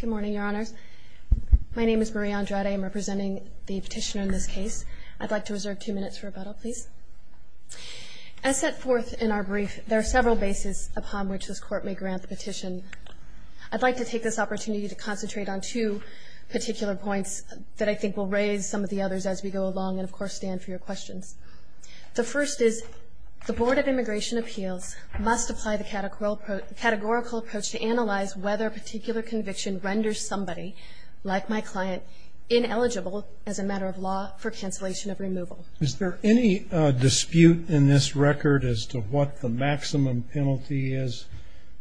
Good morning, Your Honors. My name is Marie Andrade. I'm representing the petitioner in this case. I'd like to reserve two minutes for rebuttal, please. As set forth in our brief, there are several bases upon which this Court may grant the petition. I'd like to take this opportunity to concentrate on two particular points that I think will raise some of the others as we go along and, of course, stand for your questions. The first is, the Board of Immigration Appeals must apply the categorical approach to analyze whether a particular conviction renders somebody, like my client, ineligible as a matter of law for cancellation of removal. Is there any dispute in this record as to what the maximum penalty is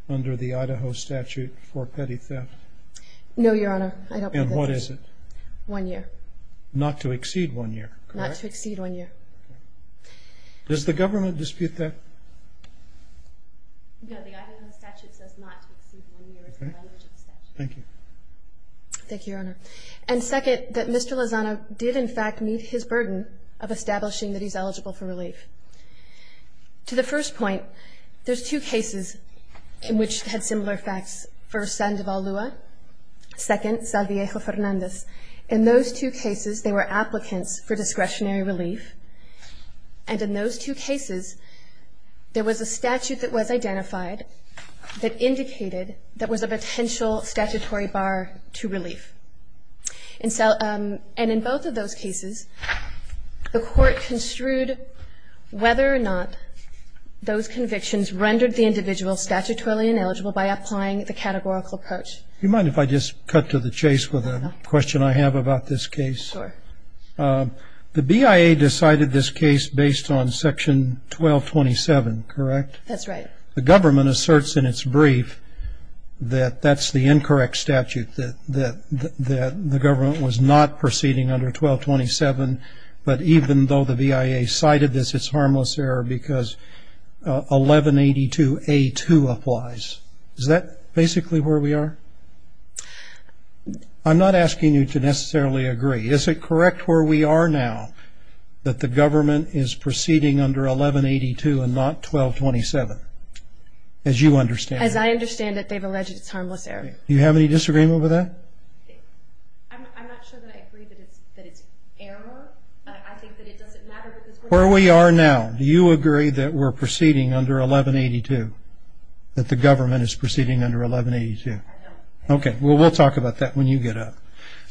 under the Idaho statute for petty theft? No, Your Honor. I don't believe there is. And what is it? One year. Not to exceed one year, correct? Not to exceed one year. Does the government dispute that? No, the Idaho statute says not to exceed one year. Thank you. Thank you, Your Honor. And second, that Mr. Lozano did, in fact, meet his burden of establishing that he's eligible for relief. To the first point, there's two cases in which had similar facts. First, Sandoval Lua. Second, Salviejo Fernandez. In those two cases, there were applicants for discretionary relief. And in those two cases, there was a statute that was identified that indicated there was a potential statutory bar to relief. And in both of those cases, the Court construed whether or not those convictions rendered the individual statutorily ineligible by applying the categorical approach. Do you mind if I just cut to the chase with a question I have about this case? Sure. The BIA decided this case based on Section 1227, correct? That's right. The government asserts in its brief that that's the incorrect statute, that the government was not proceeding under 1227, but even though the BIA cited this, it's harmless error because 1182A2 applies. Is that basically where we are? I'm not asking you to necessarily agree. Is it correct where we are now that the government is proceeding under 1182 and not 1227? As you understand. As I understand it, they've alleged it's harmless error. Do you have any disagreement with that? I'm not sure that I agree that it's error. I think that it doesn't matter. Where we are now, do you agree that we're proceeding under 1182, that the government is proceeding under 1182? I don't. Okay. Well, we'll talk about that when you get up.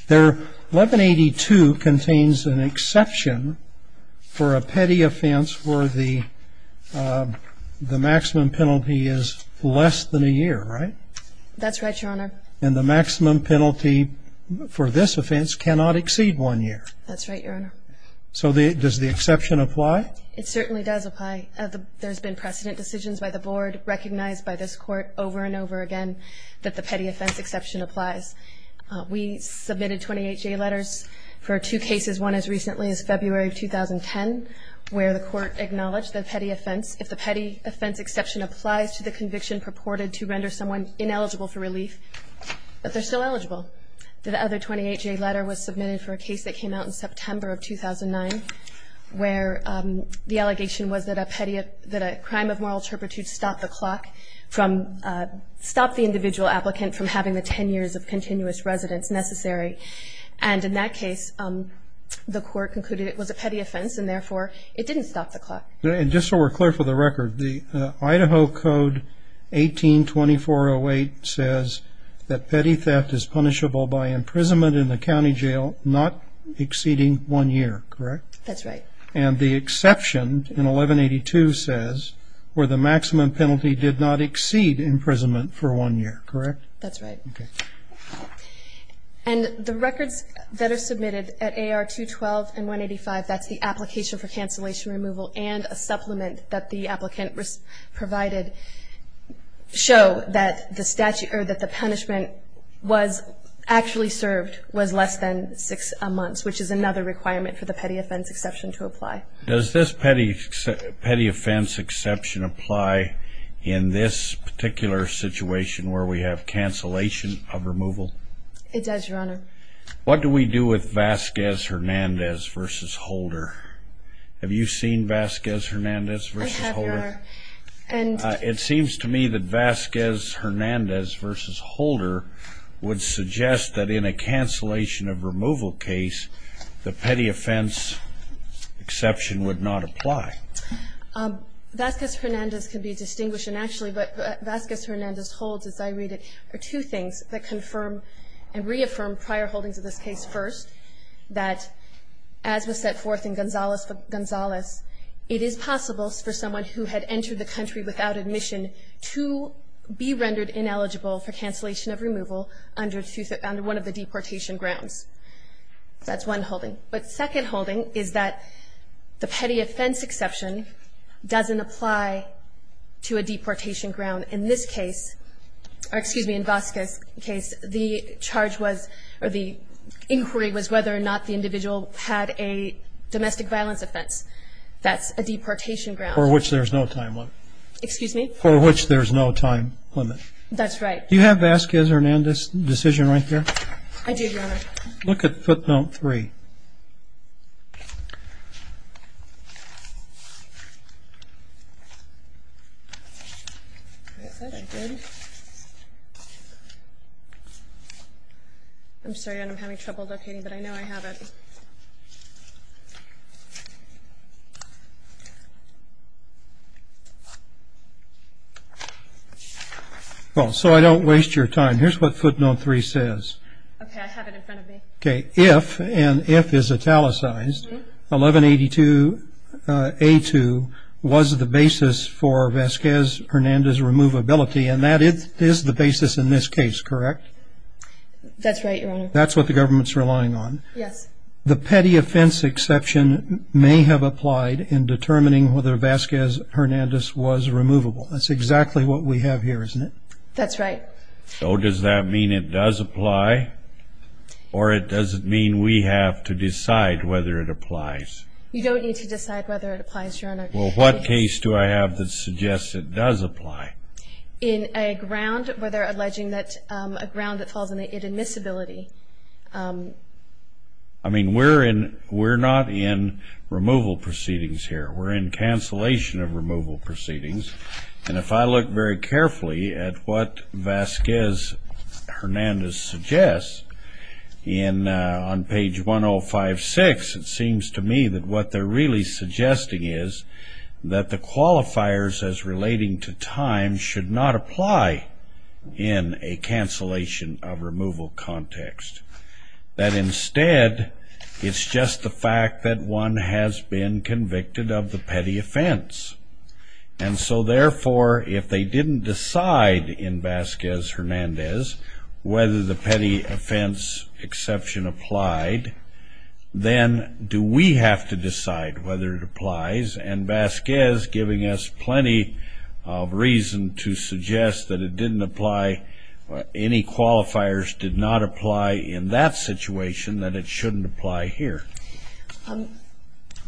1182 contains an exception for a petty offense where the maximum penalty is less than a year, right? That's right, Your Honor. And the maximum penalty for this offense cannot exceed one year. That's right, Your Honor. So does the exception apply? It certainly does apply. There's been precedent decisions by the Board, recognized by this Court over and over again, that the petty offense exception applies. We submitted 28-J letters for two cases, one as recently as February of 2010, where the Court acknowledged the petty offense. If the petty offense exception applies to the conviction purported to render someone ineligible for relief, but they're still eligible. The other 28-J letter was submitted for a case that came out in September of 2009, where the allegation was that a crime of moral turpitude stopped the clock, stopped the individual applicant from having the ten years of continuous residence necessary. And in that case, the Court concluded it was a petty offense, and therefore it didn't stop the clock. And just so we're clear for the record, the Idaho Code 18-2408 says that petty theft is punishable by imprisonment in the county jail not exceeding one year, correct? That's right. And the exception in 1182 says where the maximum penalty did not exceed imprisonment for one year, correct? That's right. Okay. And the records that are submitted at AR 212 and 185, that's the application for cancellation removal and a supplement that the applicant provided, show that the statute or that the punishment was actually served was less than six months, which is another requirement for the petty offense exception to apply. Does this petty offense exception apply in this particular situation where we have cancellation of removal? It does, Your Honor. What do we do with Vasquez-Hernandez v. Holder? Have you seen Vasquez-Hernandez v. Holder? I have, Your Honor. It seems to me that Vasquez-Hernandez v. Holder would suggest that in a cancellation of removal case, the petty offense exception would not apply. Vasquez-Hernandez can be distinguished. Actually, what Vasquez-Hernandez holds, as I read it, are two things that confirm and reaffirm prior holdings of this case. First, that as was set forth in Gonzales v. Gonzales, it is possible for someone who had entered the country without admission to be rendered ineligible for cancellation of removal under one of the deportation grounds. That's one holding. But second holding is that the petty offense exception doesn't apply to a deportation ground. In this case, or excuse me, in Vasquez's case, the charge was or the inquiry was whether or not the individual had a domestic violence offense. That's a deportation ground. For which there's no time limit. Excuse me? For which there's no time limit. That's right. Do you have Vasquez-Hernandez's decision right there? I do, Your Honor. Look at footnote 3. So I don't waste your time. Here's what footnote 3 says. Okay, I have it in front of me. Okay. If, and if is italicized, 1182A2 was the basis for Vasquez-Hernandez's removability, and that is the basis in this case, correct? That's right, Your Honor. That's what the government's relying on. Yes. The petty offense exception may have applied in determining whether Vasquez-Hernandez was removable. That's exactly what we have here, isn't it? That's right. So does that mean it does apply, or it doesn't mean we have to decide whether it applies? You don't need to decide whether it applies, Your Honor. Well, what case do I have that suggests it does apply? In a ground where they're alleging that a ground that falls in the admissibility. I mean, we're not in removal proceedings here. We're in cancellation of removal proceedings. And if I look very carefully at what Vasquez-Hernandez suggests on page 1056, it seems to me that what they're really suggesting is that the qualifiers as relating to time should not apply in a cancellation of removal context. That instead, it's just the fact that one has been convicted of the petty offense. And so, therefore, if they didn't decide in Vasquez-Hernandez whether the petty offense exception applied, then do we have to decide whether it applies? And Vasquez, giving us plenty of reason to suggest that it didn't apply, any qualifiers did not apply in that situation, that it shouldn't apply here.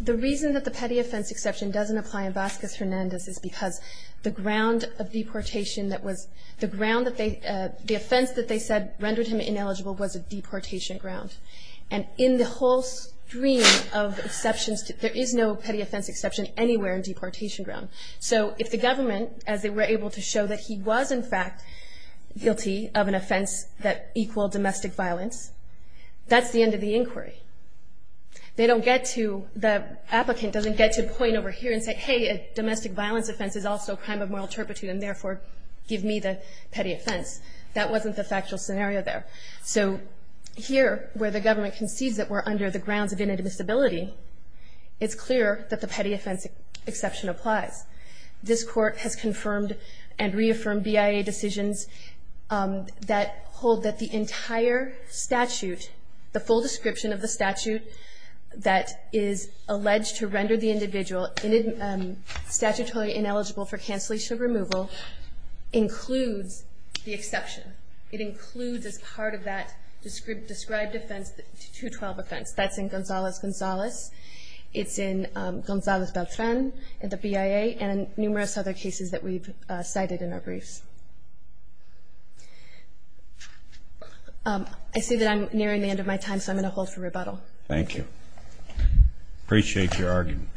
The reason that the petty offense exception doesn't apply in Vasquez-Hernandez is because the ground of deportation that was the ground that they, the offense that they said rendered him ineligible was a deportation ground. And in the whole stream of exceptions, there is no petty offense exception anywhere in deportation ground. So if the government, as they were able to show that he was, in fact, guilty of an offense that equaled domestic violence, that's the end of the inquiry. They don't get to, the applicant doesn't get to point over here and say, hey, a domestic violence offense is also a crime of moral turpitude, and therefore, give me the petty offense. That wasn't the factual scenario there. So here, where the government concedes that we're under the grounds of inadmissibility, it's clear that the petty offense exception applies. This Court has confirmed and reaffirmed BIA decisions that hold that the entire statute, the full description of the statute that is alleged to render the individual statutorily ineligible for cancellation of removal includes the exception. It includes as part of that described offense the 212 offense. That's in Gonzales-Gonzales. It's in Gonzales-Beltran, the BIA, and numerous other cases that we've cited in our briefs. I see that I'm nearing the end of my time, so I'm going to hold for rebuttal. Thank you. Appreciate your argument.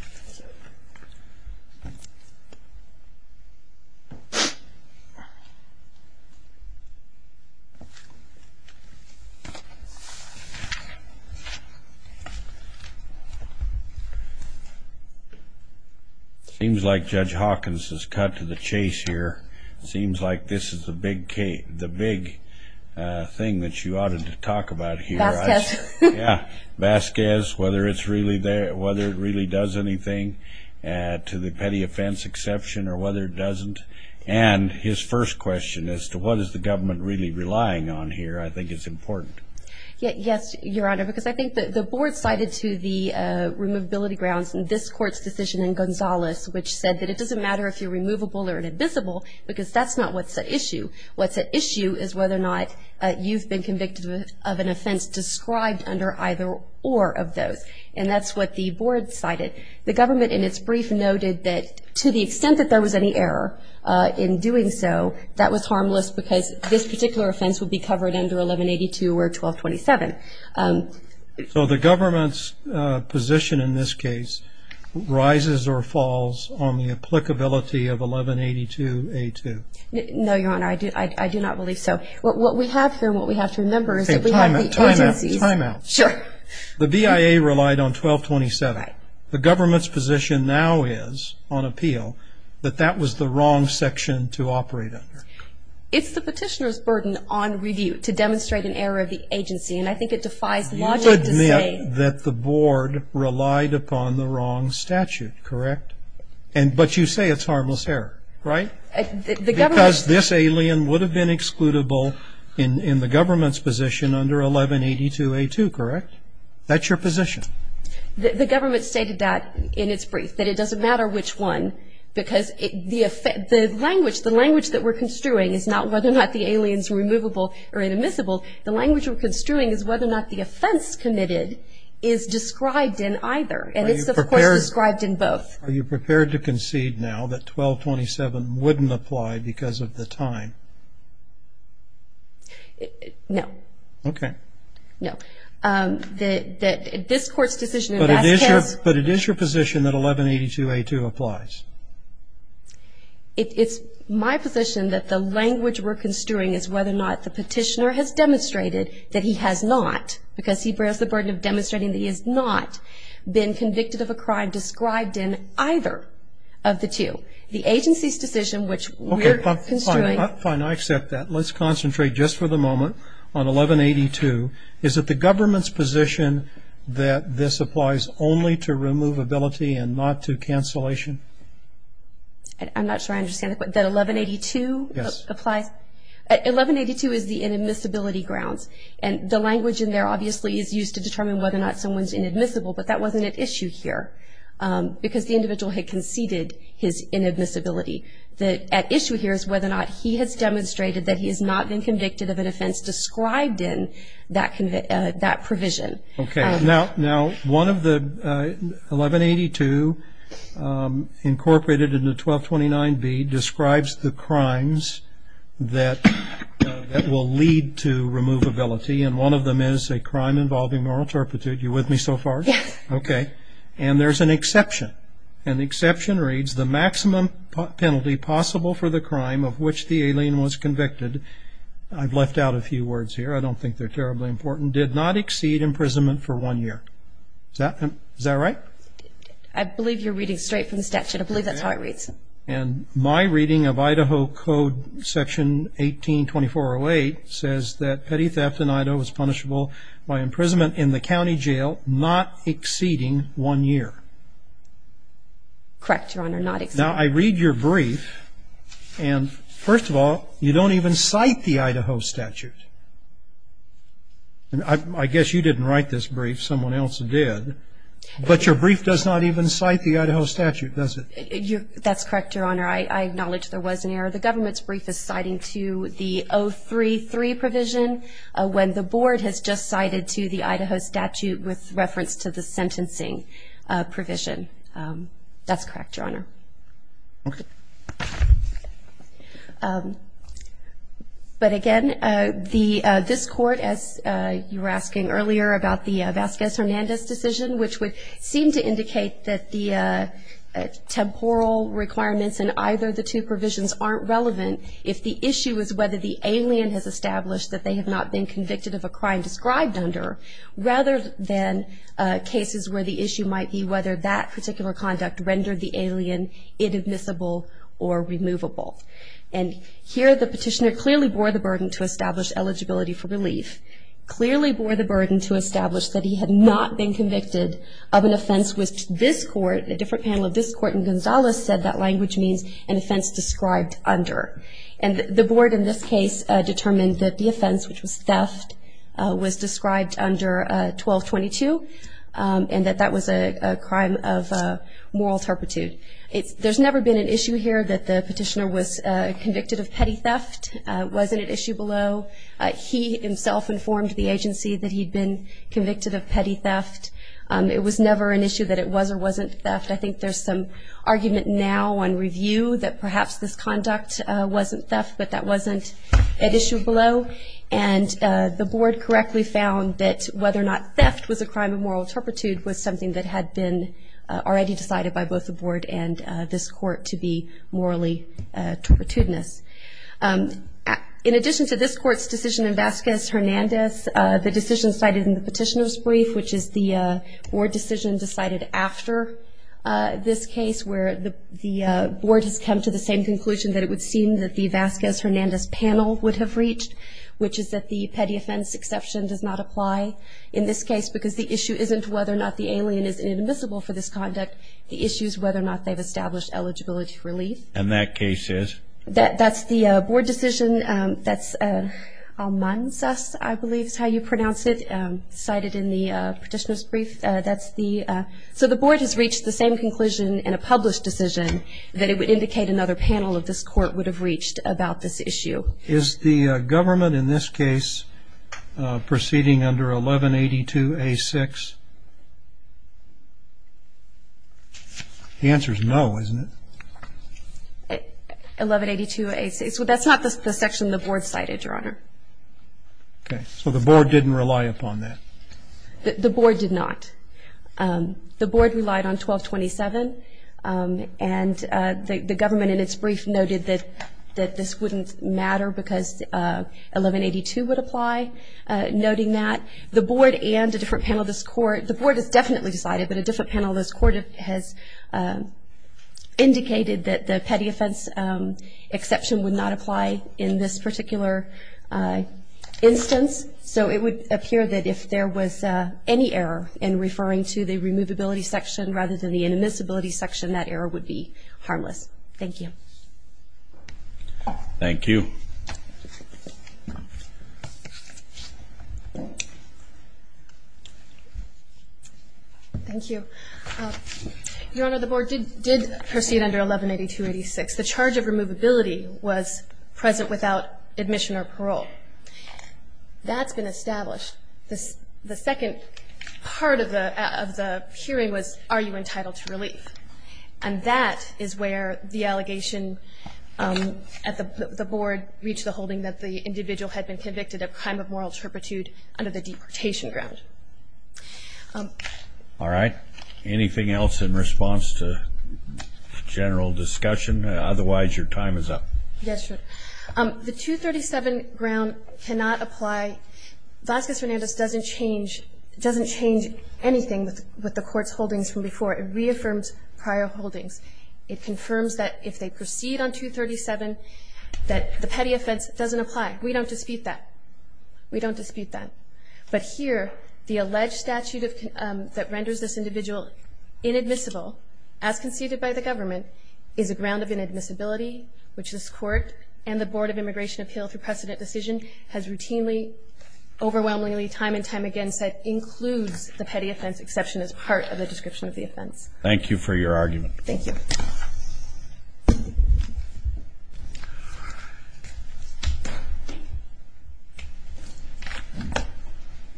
Seems like Judge Hawkins has cut to the chase here. Seems like this is the big thing that you ought to talk about here. Vasquez. Yeah, Vasquez, whether it really does anything to the petty offense exception or whether it doesn't. And his first question as to what is the government really relying on here I think is important. Yes, Your Honor, because I think the board cited to the Removability Grounds in this Court's decision in Gonzales, which said that it doesn't matter if you're removable or inadmissible because that's not what's at issue. What's at issue is whether or not you've been convicted of an offense described under either or of those, and that's what the board cited. The government in its brief noted that to the extent that there was any error in doing so, that was harmless because this particular offense would be covered under 1182 or 1227. So the government's position in this case rises or falls on the applicability of 1182A2? No, Your Honor, I do not believe so. What we have here and what we have to remember is that we have the agencies. Timeout, timeout. Sure. The BIA relied on 1227. The government's position now is on appeal that that was the wrong section to operate under. It's the petitioner's burden on review to demonstrate an error of the agency, and I think it defies logic to say. You would admit that the board relied upon the wrong statute, correct? But you say it's harmless error, right? Because this alien would have been excludable in the government's position under 1182A2, correct? That's your position. The government stated that in its brief, that it doesn't matter which one, because the language that we're construing is not whether or not the alien is removable or inadmissible. The language we're construing is whether or not the offense committed is described in either, and it's, of course, described in both. Are you prepared to concede now that 1227 wouldn't apply because of the time? No. Okay. No. But it is your position that 1182A2 applies? It's my position that the language we're construing is whether or not the petitioner has demonstrated that he has not, because he bears the burden of demonstrating that he has not been convicted of a crime described in either of the two. The agency's decision, which we're construing. Okay, fine, I accept that. Let's concentrate just for the moment on 1182. Is it the government's position that this applies only to removability and not to cancellation? I'm not sure I understand the question. That 1182 applies? Yes. 1182 is the inadmissibility grounds, and the language in there obviously is used to determine whether or not someone's inadmissible, but that wasn't at issue here because the individual had conceded his inadmissibility. The issue here is whether or not he has demonstrated that he has not been convicted of an offense described in that provision. Okay. Now, one of the 1182 incorporated into 1229B describes the crimes that will lead to removability, and one of them is a crime involving moral turpitude. Are you with me so far? Yes. Okay. And there's an exception. An exception reads, the maximum penalty possible for the crime of which the alien was convicted, I've left out a few words here, I don't think they're terribly important, did not exceed imprisonment for one year. Is that right? I believe you're reading straight from the statute. I believe that's how it reads. And my reading of Idaho Code Section 182408 says that petty theft in Idaho was punishable by imprisonment in the county jail not exceeding one year. Correct, Your Honor, not exceeding. Now, I read your brief, and first of all, you don't even cite the Idaho statute. I guess you didn't write this brief, someone else did. But your brief does not even cite the Idaho statute, does it? That's correct, Your Honor. I acknowledge there was an error. The government's brief is citing to the 033 provision, when the board has just cited to the Idaho statute with reference to the sentencing provision. That's correct, Your Honor. Okay. But again, this Court, as you were asking earlier about the Vasquez-Hernandez decision, which would seem to indicate that the temporal requirements in either the two provisions aren't relevant if the issue is whether the alien has established that they have not been convicted of a crime described under, rather than cases where the issue might be whether that particular conduct rendered the alien inadmissible or removable. And here the petitioner clearly bore the burden to establish eligibility for relief, clearly bore the burden to establish that he had not been convicted of an offense which this Court, a different panel of this Court in Gonzales, said that language means an offense described under. And the board in this case determined that the offense, which was theft, was described under 1222, and that that was a crime of moral turpitude. There's never been an issue here that the petitioner was convicted of petty theft. It wasn't an issue below. He himself informed the agency that he'd been convicted of petty theft. It was never an issue that it was or wasn't theft. I think there's some argument now on review that perhaps this conduct wasn't theft, but that wasn't at issue below. And the board correctly found that whether or not theft was a crime of moral turpitude was something that had been already decided by both the board and this Court to be morally turpitudinous. In addition to this Court's decision in Vasquez-Hernandez, the decision cited in the petitioner's brief, which is the board decision decided after this case where the board has come to the same conclusion that it would seem that the Vasquez-Hernandez panel would have reached, which is that the petty offense exception does not apply in this case because the issue isn't whether or not the alien is inadmissible for this conduct. The issue is whether or not they've established eligibility for relief. And that case is? That's the board decision. That's Almanzas, I believe is how you pronounce it, cited in the petitioner's brief. So the board has reached the same conclusion in a published decision that it would indicate another panel of this Court would have reached about this issue. Is the government in this case proceeding under 1182A6? The answer is no, isn't it? 1182A6. That's not the section the board cited, Your Honor. Okay. So the board didn't rely upon that. The board did not. The board relied on 1227, and the government in its brief noted that this wouldn't matter because 1182 would apply, noting that the board and a different panel of this Court, the board has definitely decided, but a different panel of this Court has indicated that the petty offense exception would not apply in this particular instance. So it would appear that if there was any error in referring to the removability section rather than the inadmissibility section, that error would be harmless. Thank you. Thank you. Thank you. Your Honor, the board did proceed under 1182A6. The charge of removability was present without admission or parole. That's been established. The second part of the hearing was are you entitled to relief? And that is where the allegation at the board reached the holding that the individual had been convicted of crime of moral turpitude under the deportation ground. All right. Anything else in response to general discussion? Otherwise, your time is up. Yes, Your Honor. The 237 ground cannot apply. Vasquez-Hernandez doesn't change anything with the Court's holdings from before. It reaffirms prior holdings. It confirms that if they proceed on 237, that the petty offense doesn't apply. We don't dispute that. We don't dispute that. But here, the alleged statute that renders this individual inadmissible, as conceded by the government, is a ground of inadmissibility, which this Court and the Board of Immigration Appeal through precedent decision has routinely, overwhelmingly, time and time again said includes the petty offense exception as part of the description of the offense. Thank you for your argument. Thank you.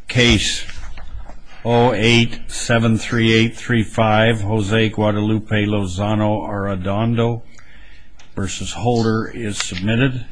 Case 0873835, Jose Guadalupe Lozano Arredondo v. Holder is submitted.